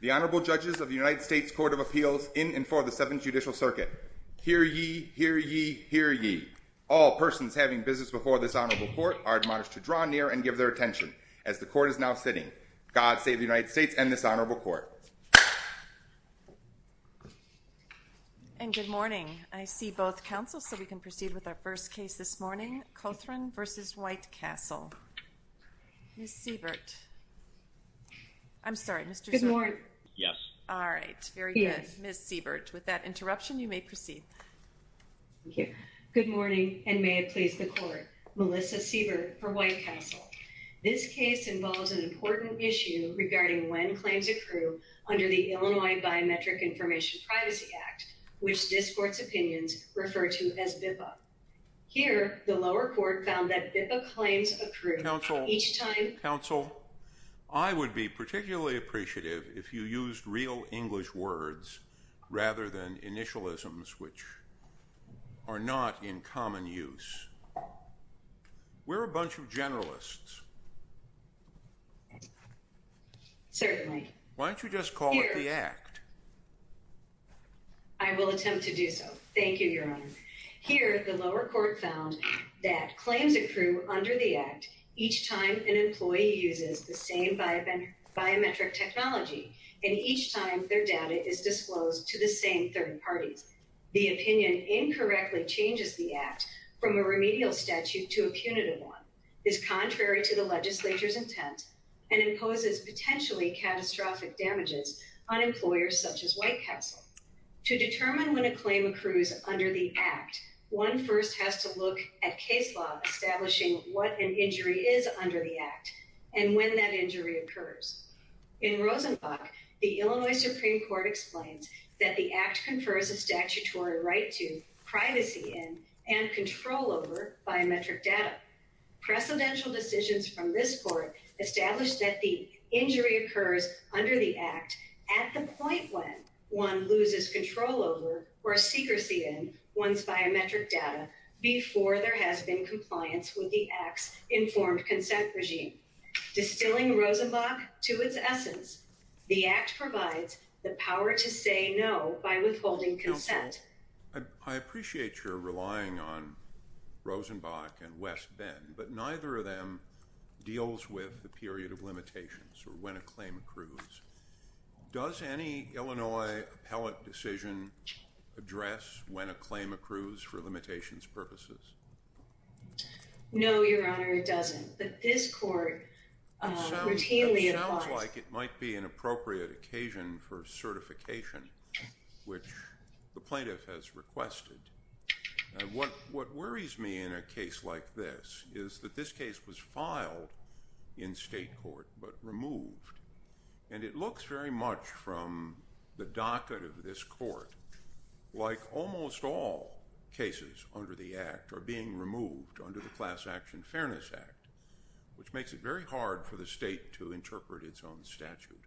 The Honorable Judges of the United States Court of Appeals in and for the Seventh Judicial Circuit. Hear ye, hear ye, hear ye. All persons having business before this honorable court are admonished to draw near and give their attention. As the court is now sitting, God save the United States and this honorable court. And good morning. I see both counsels, so we can proceed with our first case this morning, Cothron v. White Castle. Ms. Siebert. I'm sorry, Mr. Seabert. Good morning. Yes. All right. Very good. Yes. Ms. Siebert, with that interruption, you may proceed. Thank you. Good morning, and may it please the court. Melissa Siebert for White Castle. Information Privacy Act, which discourts a person's right to privacy. In this case, the lower court found that BIPA claims accrued each time counsel. I would be particularly appreciative if you used real English words rather than initialisms, which are not in common use. We're a bunch of generalists. Certainly. Why don't you just call it the act? I will attempt to do so. Thank you, Your Honor. Here, the lower court found that claims accrue under the act each time an employee uses the same biometric technology and each time their data is disclosed to the same third parties. The opinion incorrectly changes the act from a remedial statute to a punitive one, is contrary to the legislature's intent, and imposes potentially catastrophic damages on employers such as White Castle. To determine when a claim accrues under the act, one first has to look at case law establishing what an injury is under the act and when that injury occurs. In Rosenbach, the Illinois Supreme Court explains that the act confers a statutory right to privacy and control over biometric data. Precedential decisions from this court establish that the injury occurs under the act at the time one loses control over or secrecy in one's biometric data before there has been compliance with the act's informed consent regime. Distilling Rosenbach to its essence, the act provides the power to say no by withholding consent. Counsel, I appreciate your relying on Rosenbach and West Bend, but neither of them deals with the period of limitations or when a claim accrues. Does any Illinois appellate decision address when a claim accrues for limitations purposes? No, Your Honor, it doesn't. But this court routinely requires... It sounds like it might be an appropriate occasion for certification, which the plaintiff has requested. What worries me in a case like this is that this case was filed in state court but removed, and it looks very much from the docket of this court like almost all cases under the act are being removed under the Class Action Fairness Act, which makes it very hard for the state to interpret its own statute.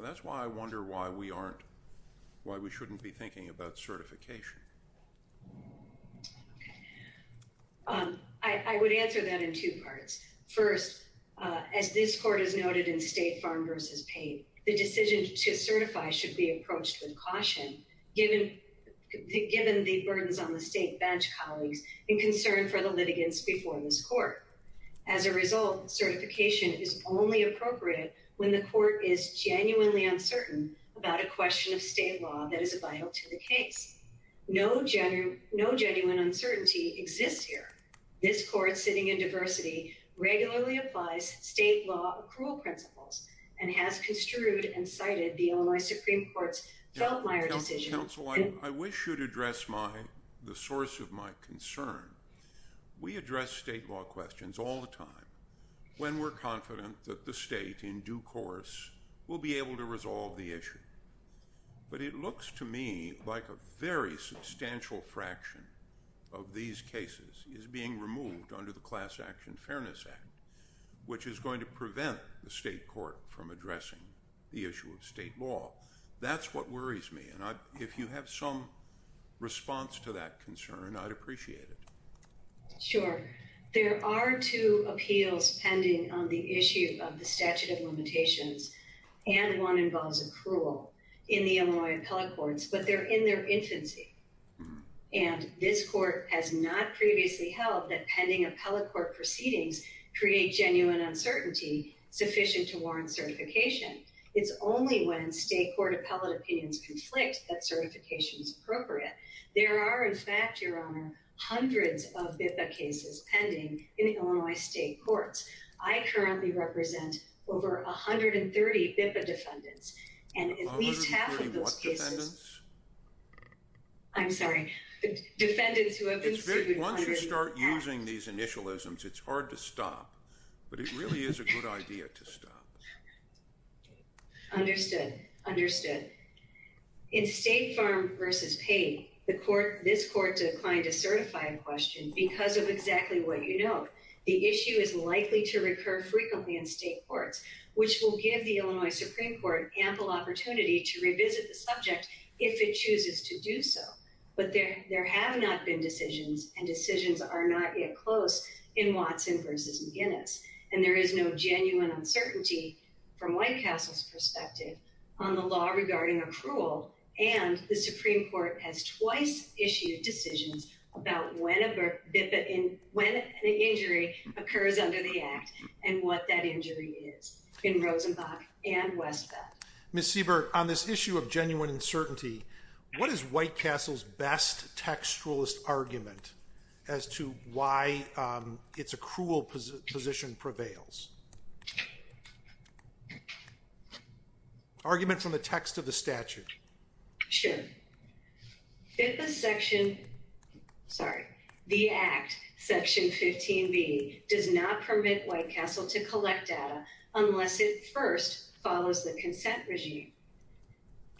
That's why I wonder why we shouldn't be thinking about certification. I would answer that in two parts. First, as this court has noted in State Farm v. Payne, the decision to certify should be approached with caution, given the burdens on the state bench, colleagues, and concern for the litigants before this court. As a result, certification is only appropriate when the court is genuinely uncertain about a question of state law that is vital to the case. No genuine uncertainty exists here. This court sitting in diversity regularly applies state law accrual principles and has construed and cited the Illinois Supreme Court's Feltmire decision... Counsel, I wish you'd address the source of my concern. We address state law questions all the time when we're confident that the state, in due course, will be able to resolve the issue. But it looks to me like a very substantial fraction of these cases is being removed under the Class Action Fairness Act, which is going to prevent the state court from addressing the issue of state law. That's what worries me. If you have some response to that concern, I'd appreciate it. Sure. There are two appeals pending on the issue of the statute of limitations, and one involves accrual in the Illinois appellate courts, but they're in their infancy. And this court has not previously held that pending appellate court proceedings create genuine uncertainty sufficient to warrant certification. It's only when state court appellate opinions conflict that certification is appropriate. There are, in fact, Your Honor, hundreds of BIPA cases pending in Illinois state courts. I currently represent over 130 BIPA defendants, and at least half of those cases... 130 what defendants? I'm sorry. Defendants who have been sued... Once you start using these initialisms, it's hard to stop. But it really is a good idea to stop. Understood. Understood. In State Farm v. Pay, this court declined to certify a question because of exactly what you note. The issue is likely to recur frequently in state courts, which will give the Illinois Supreme Court ample opportunity to revisit the subject if it chooses to do so. But there have not been decisions, and decisions are not yet close in Watson v. Guinness. And there is no genuine uncertainty, from White Castle's perspective, on the law regarding accrual. And the Supreme Court has twice issued decisions about when an injury occurs under the Act and what that injury is in Rosenbach and Westbeth. Ms. Siebert, on this issue of genuine uncertainty, what is White Castle's best textualist argument as to why its accrual position prevails? Argument from the text of the statute. Sure. BIPA Section... Sorry. The Act, Section 15b, does not permit White Castle to collect data unless it first follows the consent regime.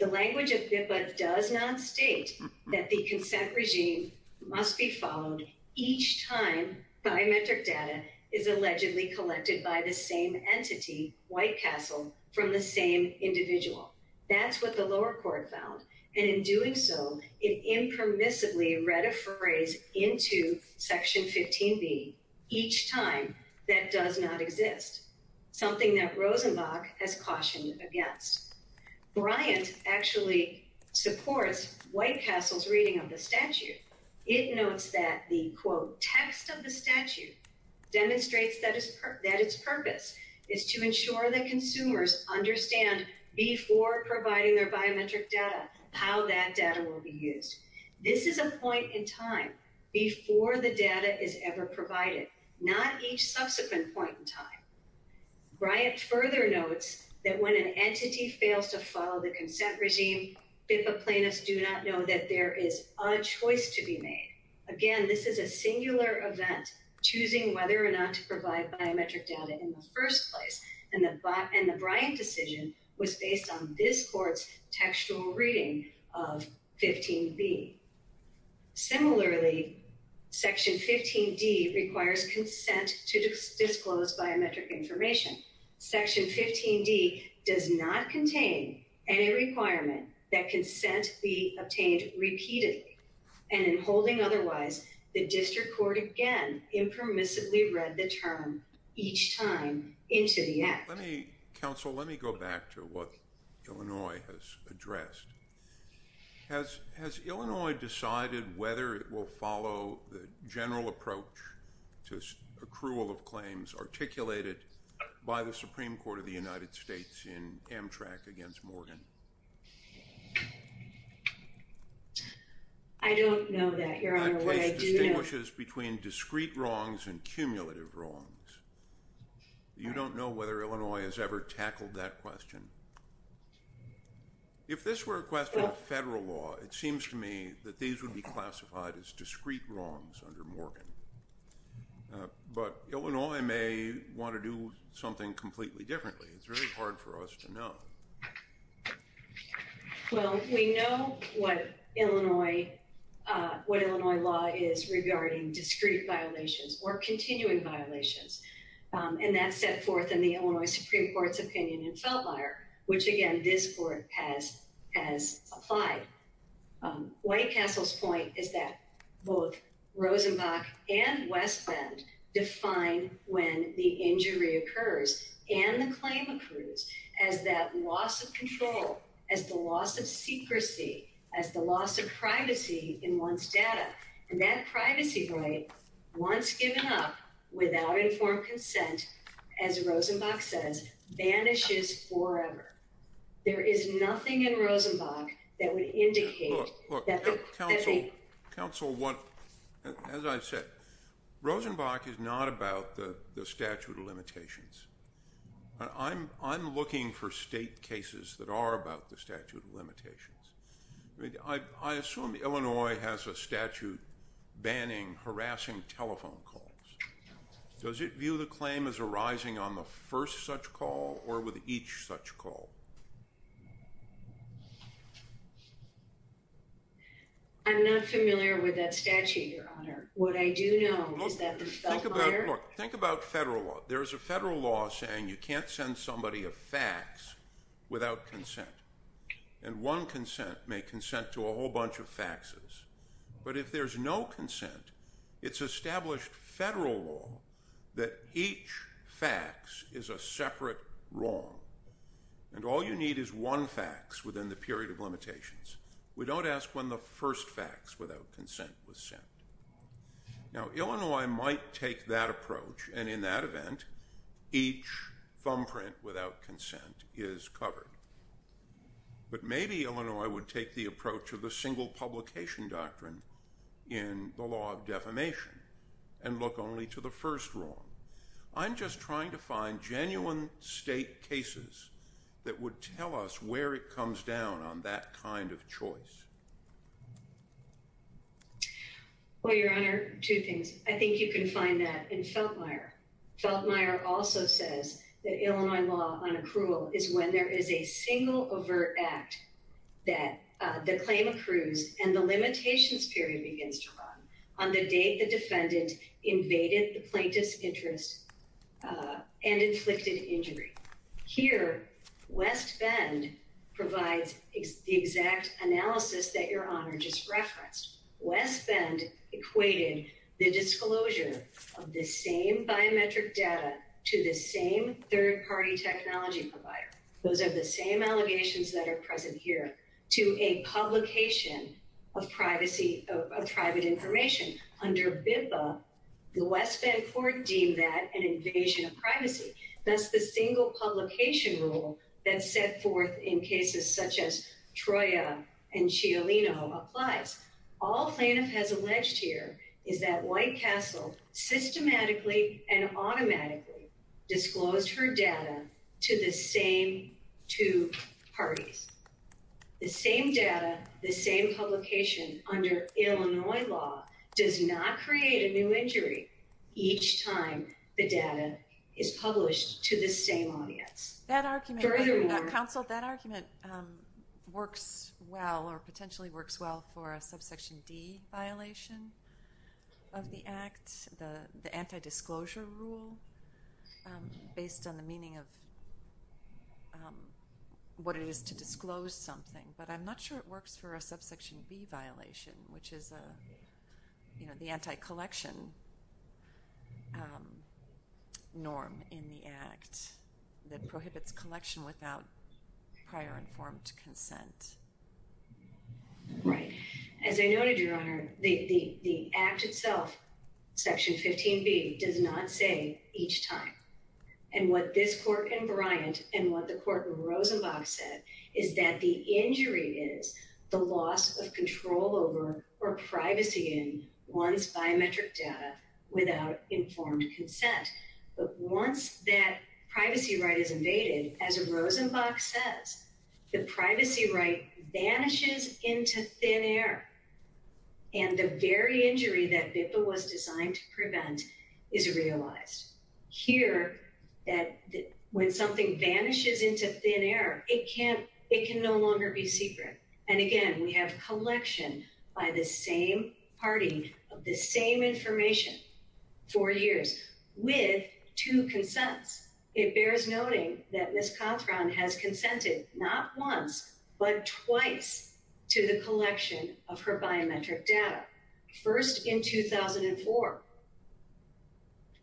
The language of BIPA does not state that the consent regime must be followed each time biometric data is allegedly collected by the same entity, White Castle, from the same individual. That's what the lower court found. And in doing so, it impermissibly read a phrase into Section 15b each time that does not exist, something that Rosenbach has cautioned against. Bryant actually supports White Castle's reading of the statute. It notes that the, quote, text of the statute demonstrates that its purpose is to ensure that consumers understand before providing their biometric data how that data will be used. This is a point in time before the data is ever provided, not each subsequent point in time. Bryant further notes that when an entity fails to follow the consent regime, BIPA plaintiffs do not know that there is a choice to be made. Again, this is a singular event, choosing whether or not to provide biometric data in the first place, and the Bryant decision was based on this court's textual reading of 15b. Similarly, Section 15d requires consent to disclose biometric information. Section 15d does not contain any requirement that consent be obtained repeatedly, and in Let me, counsel, let me go back to what Illinois has addressed. Has Illinois decided whether it will follow the general approach to accrual of claims articulated by the Supreme Court of the United States in Amtrak against Morgan? I don't know that, Your Honor. The case distinguishes between discrete wrongs and cumulative wrongs. You don't know whether Illinois has ever tackled that question. If this were a question of federal law, it seems to me that these would be classified as discrete wrongs under Morgan. But Illinois may want to do something completely differently. It's really hard for us to know. Well, we know what Illinois law is regarding discrete violations or continuing violations, and that's set forth in the Illinois Supreme Court's opinion in Feldmeier, which, again, this court has applied. White Castle's point is that both Rosenbach and West Bend define when the injury occurs and the claim occurs as that loss of control, as the loss of secrecy, as the loss of privacy in one's data. And that privacy right, once given up without informed consent, as Rosenbach says, vanishes forever. There is nothing in Rosenbach that would indicate that they Counsel, as I said, Rosenbach is not about the statute of limitations. I'm looking for state cases that are about the statute of limitations. I assume Illinois has a statute banning harassing telephone calls. Does it view the claim as arising on the first such call or with each such call? I'm not familiar with that statute, Your Honor. What I do know is that the Feldmeier... Look, think about federal law. There is a federal law saying you can't send somebody a fax without consent. But if there's no consent, it's established federal law that each fax is a separate wrong. And all you need is one fax within the period of limitations. We don't ask when the first fax without consent was sent. Now, Illinois might take that approach, and in that event, each thumbprint without consent is covered. But maybe Illinois would take the approach of the single publication doctrine in the law of defamation and look only to the first wrong. I'm just trying to find genuine state cases that would tell us where it comes down on that kind of choice. Well, Your Honor, two things. I think you can find that in Feldmeier. Feldmeier also says that Illinois law on accrual is when there is a single overt act that the claim accrues and the limitations period begins to run on the date the defendant invaded the plaintiff's interest and inflicted injury. Here, West Bend provides the exact analysis that Your Honor just referenced. West Bend equated the disclosure of the same biometric data to the same third-party technology provider, those are the same allegations that are present here, to a publication of privacy, of private information. Under BIPA, the West Bend court deemed that an invasion of privacy. That's the single publication rule that's set forth in cases such as Troia and Cialino applies. All plaintiff has alleged here is that White Castle systematically and automatically disclosed her data to the same two parties. The same data, the same publication under Illinois law does not create a new injury each time the data is published to the same audience. That argument, counsel, that argument works well or potentially works well for a subsection D violation of the act, the anti-disclosure rule based on the meaning of what it is to disclose something. But I'm not sure it works for a subsection B violation, which is, you know, the anti-collection norm in the act that prohibits collection without prior informed consent. Right. As I noted, Your Honor, the act itself, section 15B, does not say each time. And what this court and Bryant and what the court of Rosenbach said is that the injury is the loss of control over or privacy in one's biometric data without informed consent. But once that privacy right is invaded, as Rosenbach says, the privacy right vanishes into thin air. And the very injury that was designed to prevent is realized here that when something vanishes into thin air, it can't it can no longer be secret. And again, we have collection by the same party of the same information for years with two consents. It bears noting that Ms. Cothron has consented not once but twice to the collection of her biometric data. First in 2004.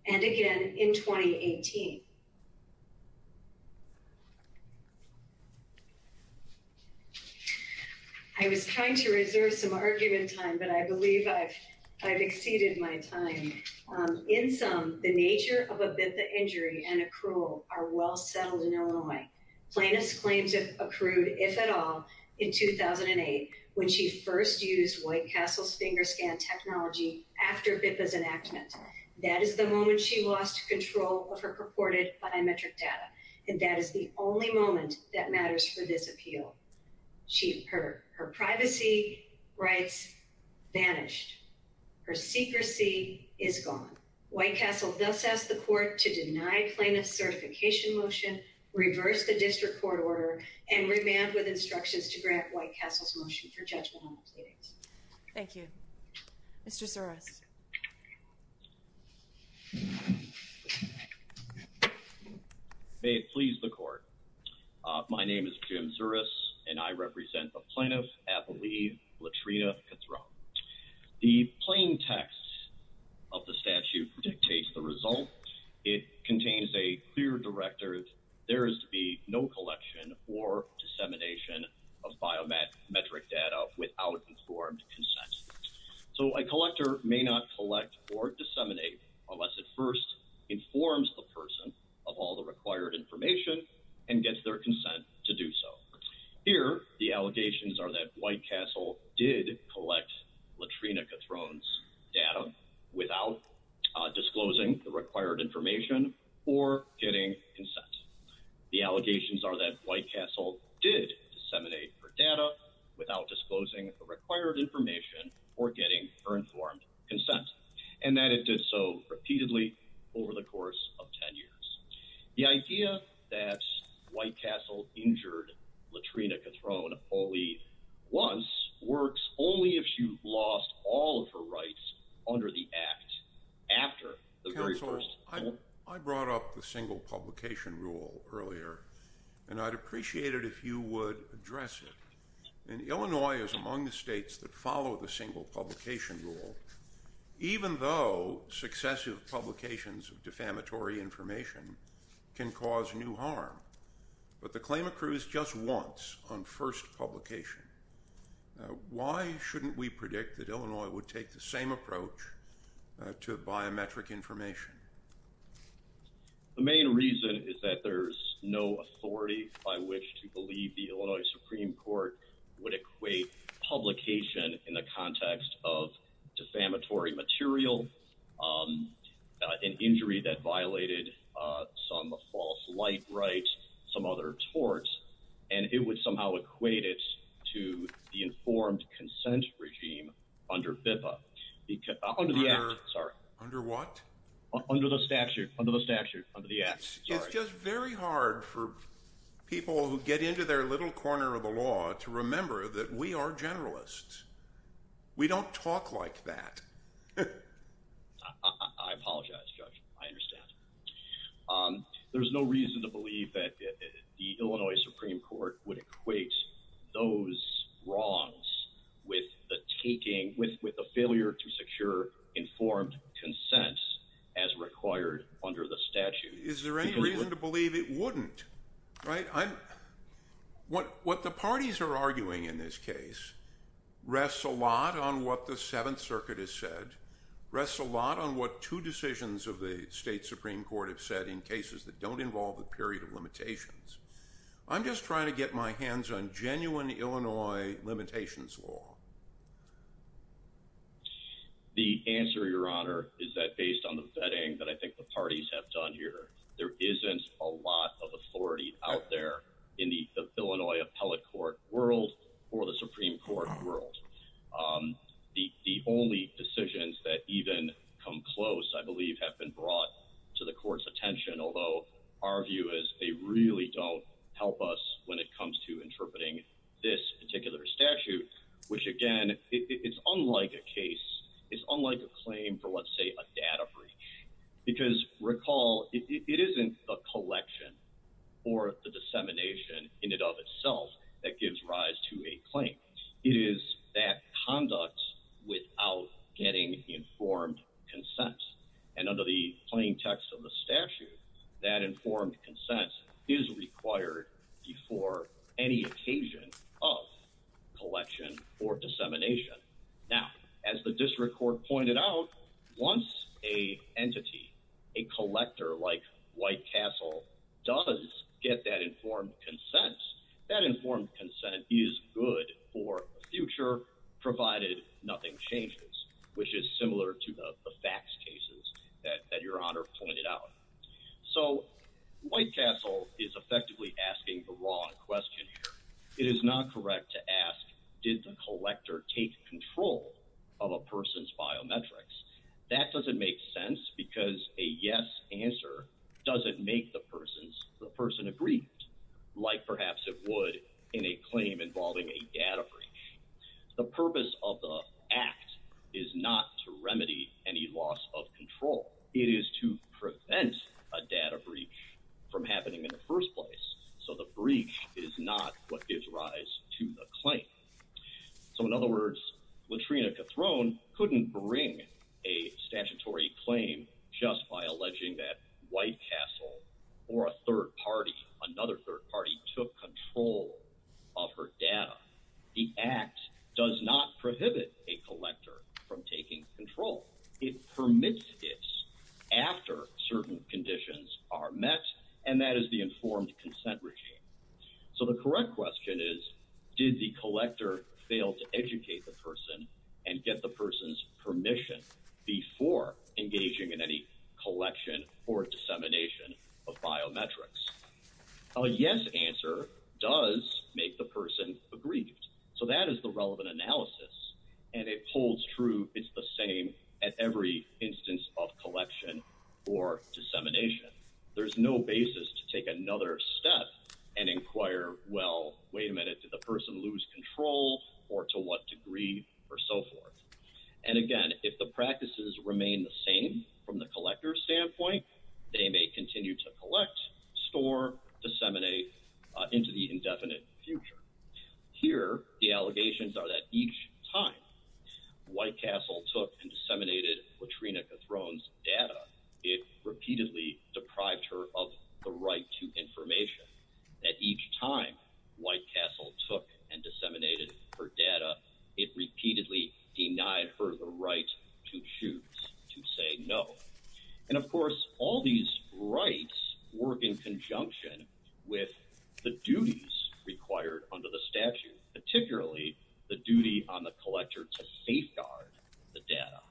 And again in 2018. I was trying to reserve some argument time, but I believe I've exceeded my time. In sum, the nature of a BIPPA injury and accrual are well settled in Illinois. Plaintiff's claims accrued, if at all, in 2008 when she first used White Castle's finger scan technology after BIPPA's enactment. That is the moment she lost control of her purported biometric data. And that is the only moment that matters for this appeal. She her her privacy rights vanished. Her secrecy is gone. White Castle thus asked the court to deny plaintiff's certification motion, reverse the district court order, and remand with instructions to grant White Castle's motion for judgment. Thank you, Mr. Suris. May it please the court. My name is Jim Suris and I represent the plaintiff, Appleby Latrina Cothron. The plain text of the statute dictates the result. It contains a clear directive. There is to be no collection or dissemination of biometric data without informed consent. So a collector may not collect or disseminate unless it first informs the person of all the required information and gets their consent to do so. Here, the allegations are that White Castle did collect Latrina Cothron's data without disclosing the required information or getting consent. The allegations are that White Castle did disseminate her data without disclosing the required information or getting her informed consent, and that it did so repeatedly over the course of 10 years. The idea that White Castle injured Latrina Cothron, Pauline, once works only if she lost all of her rights under the act after the very first— Counsel, I brought up the single publication rule earlier, and I'd appreciate it if you would address it. And Illinois is among the states that follow the single publication rule, even though successive publications of defamatory information can cause new harm. But the claim accrues just once on first publication. Why shouldn't we predict that Illinois would take the same approach to biometric information? The main reason is that there's no authority by which to believe the Illinois Supreme Court would equate publication in the context of defamatory material, an injury that violated some false light rights, some other torts, and it would somehow equate it to the informed consent regime under BIPA—under the act, sorry. Under what? Under the statute, under the statute, under the act, sorry. It's just very hard for people who get into their little corner of the law to remember that we are generalists. We don't talk like that. I apologize, Judge. I understand. There's no reason to believe that the Illinois Supreme Court would equate those wrongs with the taking—with the failure to secure informed consent as required under the statute. Is there any reason to believe it wouldn't? What the parties are arguing in this case rests a lot on what the Seventh Circuit has said, rests a lot on what two decisions of the state Supreme Court have said in cases that don't involve a period of limitations. I'm just trying to get my hands on genuine Illinois limitations law. The answer, Your Honor, is that based on the vetting that I think the parties have done here, there isn't a lot of authority out there in the Illinois appellate court world or the Supreme Court world. The only decisions that even come close, I believe, have been brought to the court's attention, although our view is they really don't help us when it comes to interpreting this particular statute, which, again, it's unlike a case. It's unlike a claim for, let's say, a data breach, because recall, it isn't the collection or the dissemination in and of itself that gives rise to a claim. It is that conduct without getting informed consent. And under the plain text of the statute, that informed consent is required before any occasion of collection or dissemination. Now, as the district court pointed out, once an entity, a collector like White Castle, does get that informed consent, that informed consent is good for the future, provided nothing changes, which is similar to the facts cases that Your Honor pointed out. So White Castle is effectively asking the wrong question here. It is not correct to ask, did the collector take control of a person's biometrics? That doesn't make sense because a yes answer doesn't make the person agree, like perhaps it would in a claim involving a data breach. The purpose of the act is not to remedy any loss of control. It is to prevent a data breach from happening in the first place. So the breach is not what gives rise to the claim. So, in other words, Latrina Cattrone couldn't bring a statutory claim just by alleging that White Castle or a third party, another third party, took control of her data. The act does not prohibit a collector from taking control. It permits it after certain conditions are met, and that is the informed consent regime. So the correct question is, did the collector fail to educate the person and get the person's permission before engaging in any collection or dissemination of biometrics? A yes answer does make the person aggrieved. So that is the relevant analysis, and it holds true, it's the same at every instance of collection or dissemination. There's no basis to take another step and inquire, well, wait a minute, did the person lose control, or to what degree, or so forth. And again, if the practices remain the same from the collector's standpoint, they may continue to collect, store, disseminate into the indefinite future. Here, the allegations are that each time White Castle took and disseminated Latrina Cattrone's data, it repeatedly deprived her of the right to information. That each time White Castle took and disseminated her data, it repeatedly denied her the right to choose to say no. And of course, all these rights work in conjunction with the duties required under the statute, particularly the duty on the collector to safeguard the data.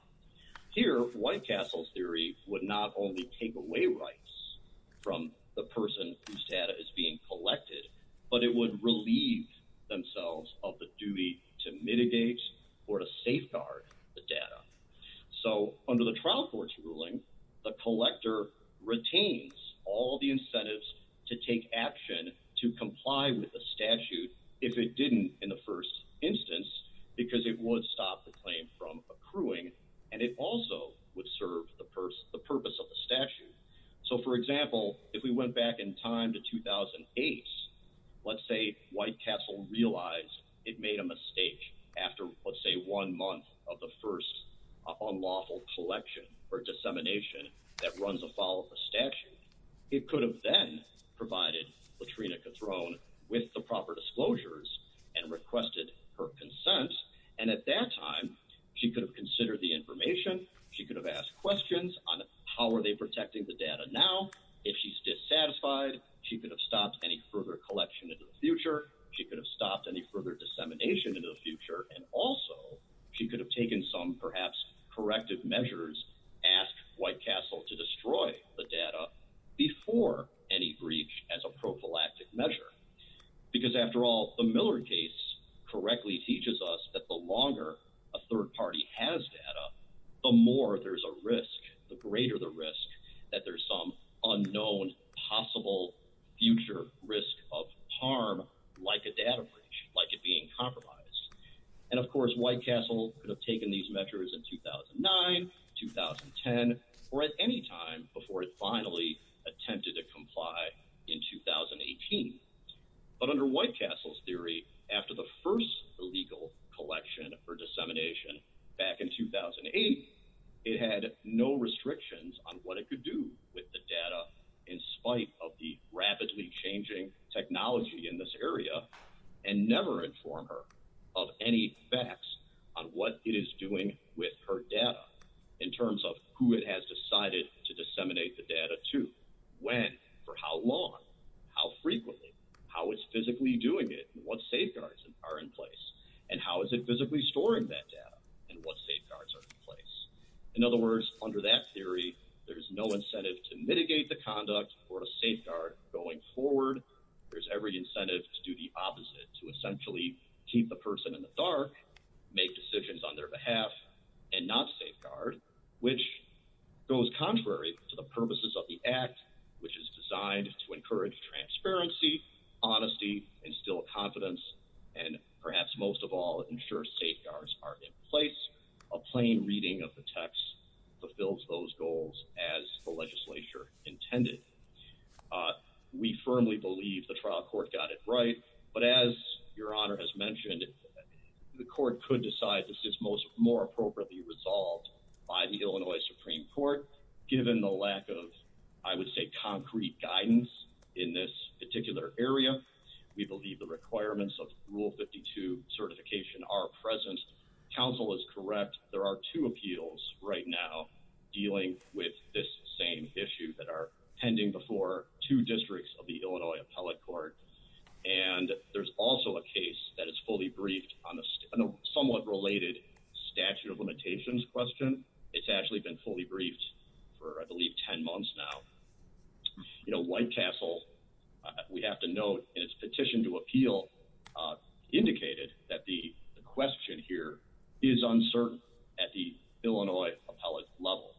Here, White Castle's theory would not only take away rights from the person whose data is being collected, but it would relieve themselves of the duty to mitigate or to safeguard the data. So, under the trial court's ruling, the collector retains all the incentives to take action to comply with the statute if it didn't in the first instance, because it would stop the claim from accruing, and it also would serve the purpose of the statute. So, for example, if we went back in time to 2008, let's say White Castle realized it made a mistake after, let's say, one month of the first unlawful collection or dissemination that runs afoul of the statute, it could have then provided Latrina Cattrone with the proper disclosures and requested her consent, and at that time, she could have considered the information, she could have asked questions on how are they protecting the data now. If she's dissatisfied, she could have stopped any further collection in the future, she could have stopped any further dissemination in the future, and also she could have taken some perhaps corrective measures, asked White Castle to destroy the data before any breach as a prophylactic measure. Because after all, the Miller case correctly teaches us that the longer a third party has data, the more there's a risk, the greater the risk that there's some unknown possible future risk of harm like a data breach, like it being compromised. And of course, White Castle could have taken these measures in 2009, 2010, or at any time before it finally attempted to comply in 2018. But under White Castle's theory, after the first illegal collection or dissemination back in 2008, it had no restrictions on what it could do with the data in spite of the rapidly changing technology in this area, and never inform her of any facts on what it is doing with her data in terms of who it has decided to disseminate the data to, when, for how long, how frequently, how it's physically doing it, what safeguards are in place, and how is it physically storing that data, and what safeguards are in place. In other words, under that theory, there's no incentive to mitigate the conduct or a safeguard going forward. There's every incentive to do the opposite, to essentially keep the person in the dark, make decisions on their behalf, and not safeguard, which goes contrary to the purposes of the Act, which is designed to encourage transparency, honesty, instill confidence, and perhaps most of all, ensure safeguards are in place. A plain reading of the text fulfills those goals as the legislature intended. We firmly believe the trial court got it right, but as Your Honor has mentioned, the court could decide this is more appropriately resolved by the Illinois Supreme Court, given the lack of, I would say, concrete guidance in this particular area. We believe the requirements of Rule 52 certification are present. Counsel is correct. There are two appeals right now dealing with this same issue that are pending before two districts of the Illinois Appellate Court, and there's also a case that is fully briefed on a somewhat related statute of limitations question. It's actually been fully briefed for, I believe, 10 months now. White Castle, we have to note in its petition to appeal, indicated that the question here is uncertain at the Illinois appellate level.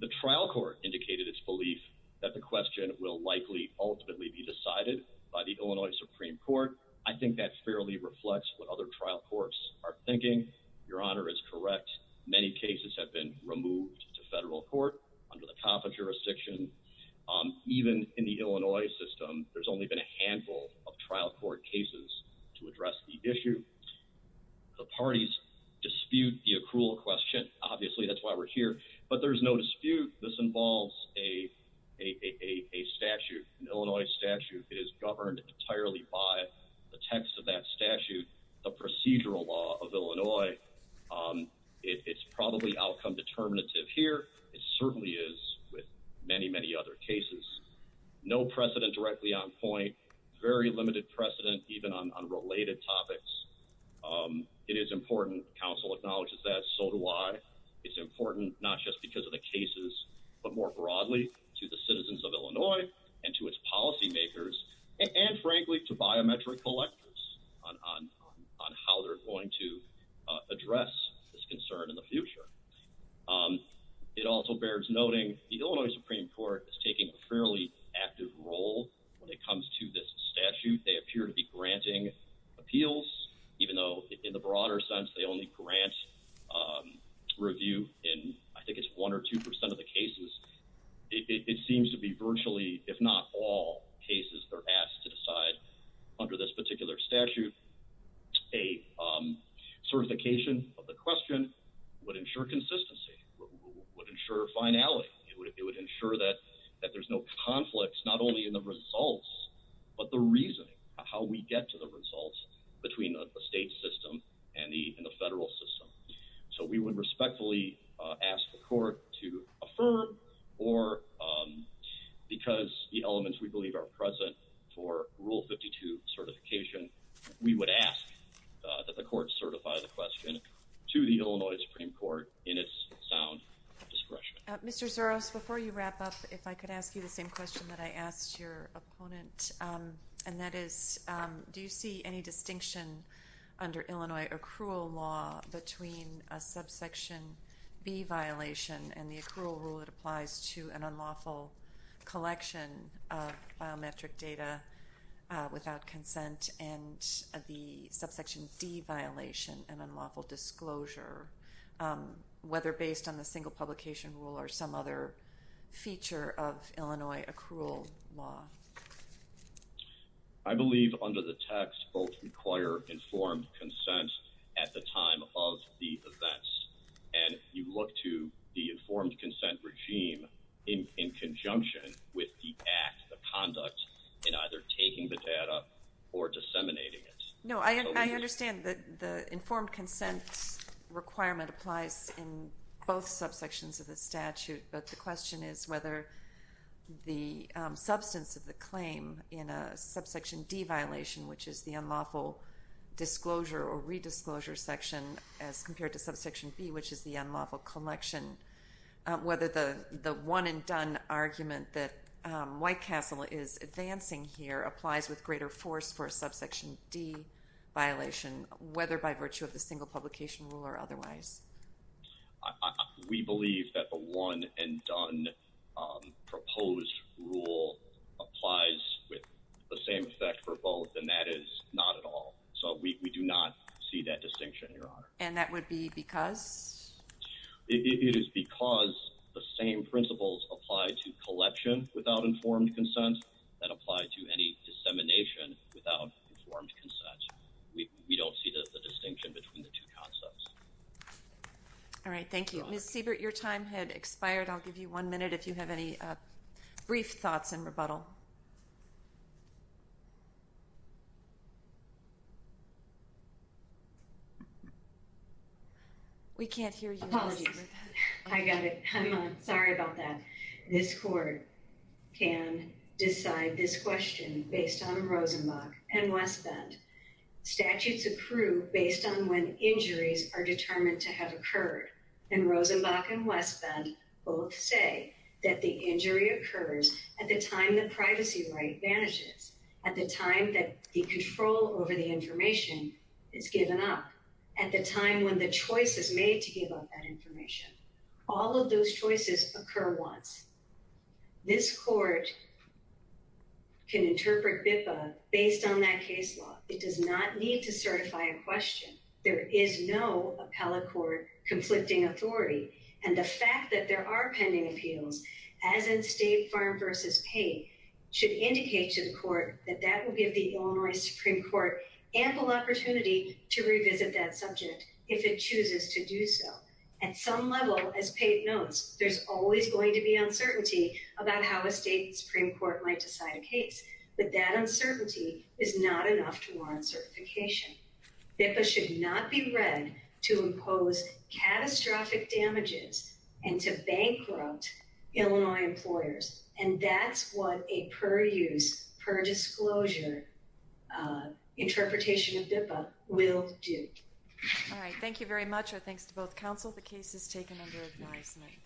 The trial court indicated its belief that the question will likely ultimately be decided by the Illinois Supreme Court. I think that fairly reflects what other trial courts are thinking. Your Honor is correct. Many cases have been removed to federal court under the COPA jurisdiction. Even in the Illinois system, there's only been a handful of trial court cases to address the issue. The parties dispute the accrual question. Obviously, that's why we're here, but there's no dispute. This involves a statute. An Illinois statute is governed entirely by the text of that statute. The procedural law of Illinois, it's probably outcome determinative here. It certainly is with many, many other cases. No precedent directly on point. Very limited precedent even on related topics. It is important. Counsel acknowledges that. So do I. It's important not just because of the cases, but more broadly to the citizens of Illinois and to its policymakers and, frankly, to biometric collectors on how they're going to address this concern in the future. It also bears noting the Illinois Supreme Court is taking a fairly active role when it comes to this statute. They appear to be granting appeals, even though in the broader sense, they only grant review in I think it's one or two percent of the cases. It seems to be virtually, if not all cases, they're asked to decide under this particular statute. A certification of the question would ensure consistency, would ensure finality. It would ensure that there's no conflicts, not only in the results, but the reasoning, how we get to the results between the state system and the federal system. So we would respectfully ask the court to affirm or because the elements we believe are present for Rule 52 certification, we would ask that the court certify the question to the Illinois Supreme Court in its sound discretion. Mr. Zuros, before you wrap up, if I could ask you the same question that I asked your opponent, and that is, do you see any distinction under Illinois accrual law between a subsection B violation and the accrual rule that applies to an unlawful collection of biometric data without consent and the subsection D violation and unlawful disclosure, whether based on the single publication rule or some other feature of Illinois accrual law? I believe under the text both require informed consent at the time of the events, and you look to the informed consent regime in conjunction with the act, the conduct, in either taking the data or disseminating it. No, I understand that the informed consent requirement applies in both subsections of the statute, but the question is whether the substance of the claim in a subsection D violation, which is the unlawful disclosure or redisclosure section as compared to subsection B, which is the unlawful collection, whether the one-and-done argument that White Castle is advancing here applies with greater force for a subsection D violation, whether by virtue of the single publication rule or otherwise? We believe that the one-and-done proposed rule applies with the same effect for both, and that is not at all. So we do not see that distinction, Your Honor. And that would be because? It is because the same principles apply to collection without informed consent that apply to any dissemination without informed consent. We don't see the distinction between the two concepts. All right, thank you. Ms. Siebert, your time had expired. I'll give you one minute if you have any brief thoughts in rebuttal. We can't hear you. Apologies. I got it. I'm sorry about that. This court can decide this question based on Rosenbach and Westbend. All of those choices occur once. This court can interpret BIPA based on that case law. It does not need to certify a question. There is no appellate court conflicting authority, and the fact that there are pending appeals, as in State Farm v. Pate, should indicate to the court that that will give the Illinois Supreme Court ample opportunity to revisit that subject if it chooses to do so. At some level, as Pate notes, there's always going to be uncertainty about how a state Supreme Court might decide a case, but that uncertainty is not enough to warrant certification. BIPA should not be read to impose catastrophic damages and to bankrupt Illinois employers, and that's what a per-use, per-disclosure interpretation of BIPA will do. All right. Thank you very much. Our thanks to both counsel. The case is taken under advisement.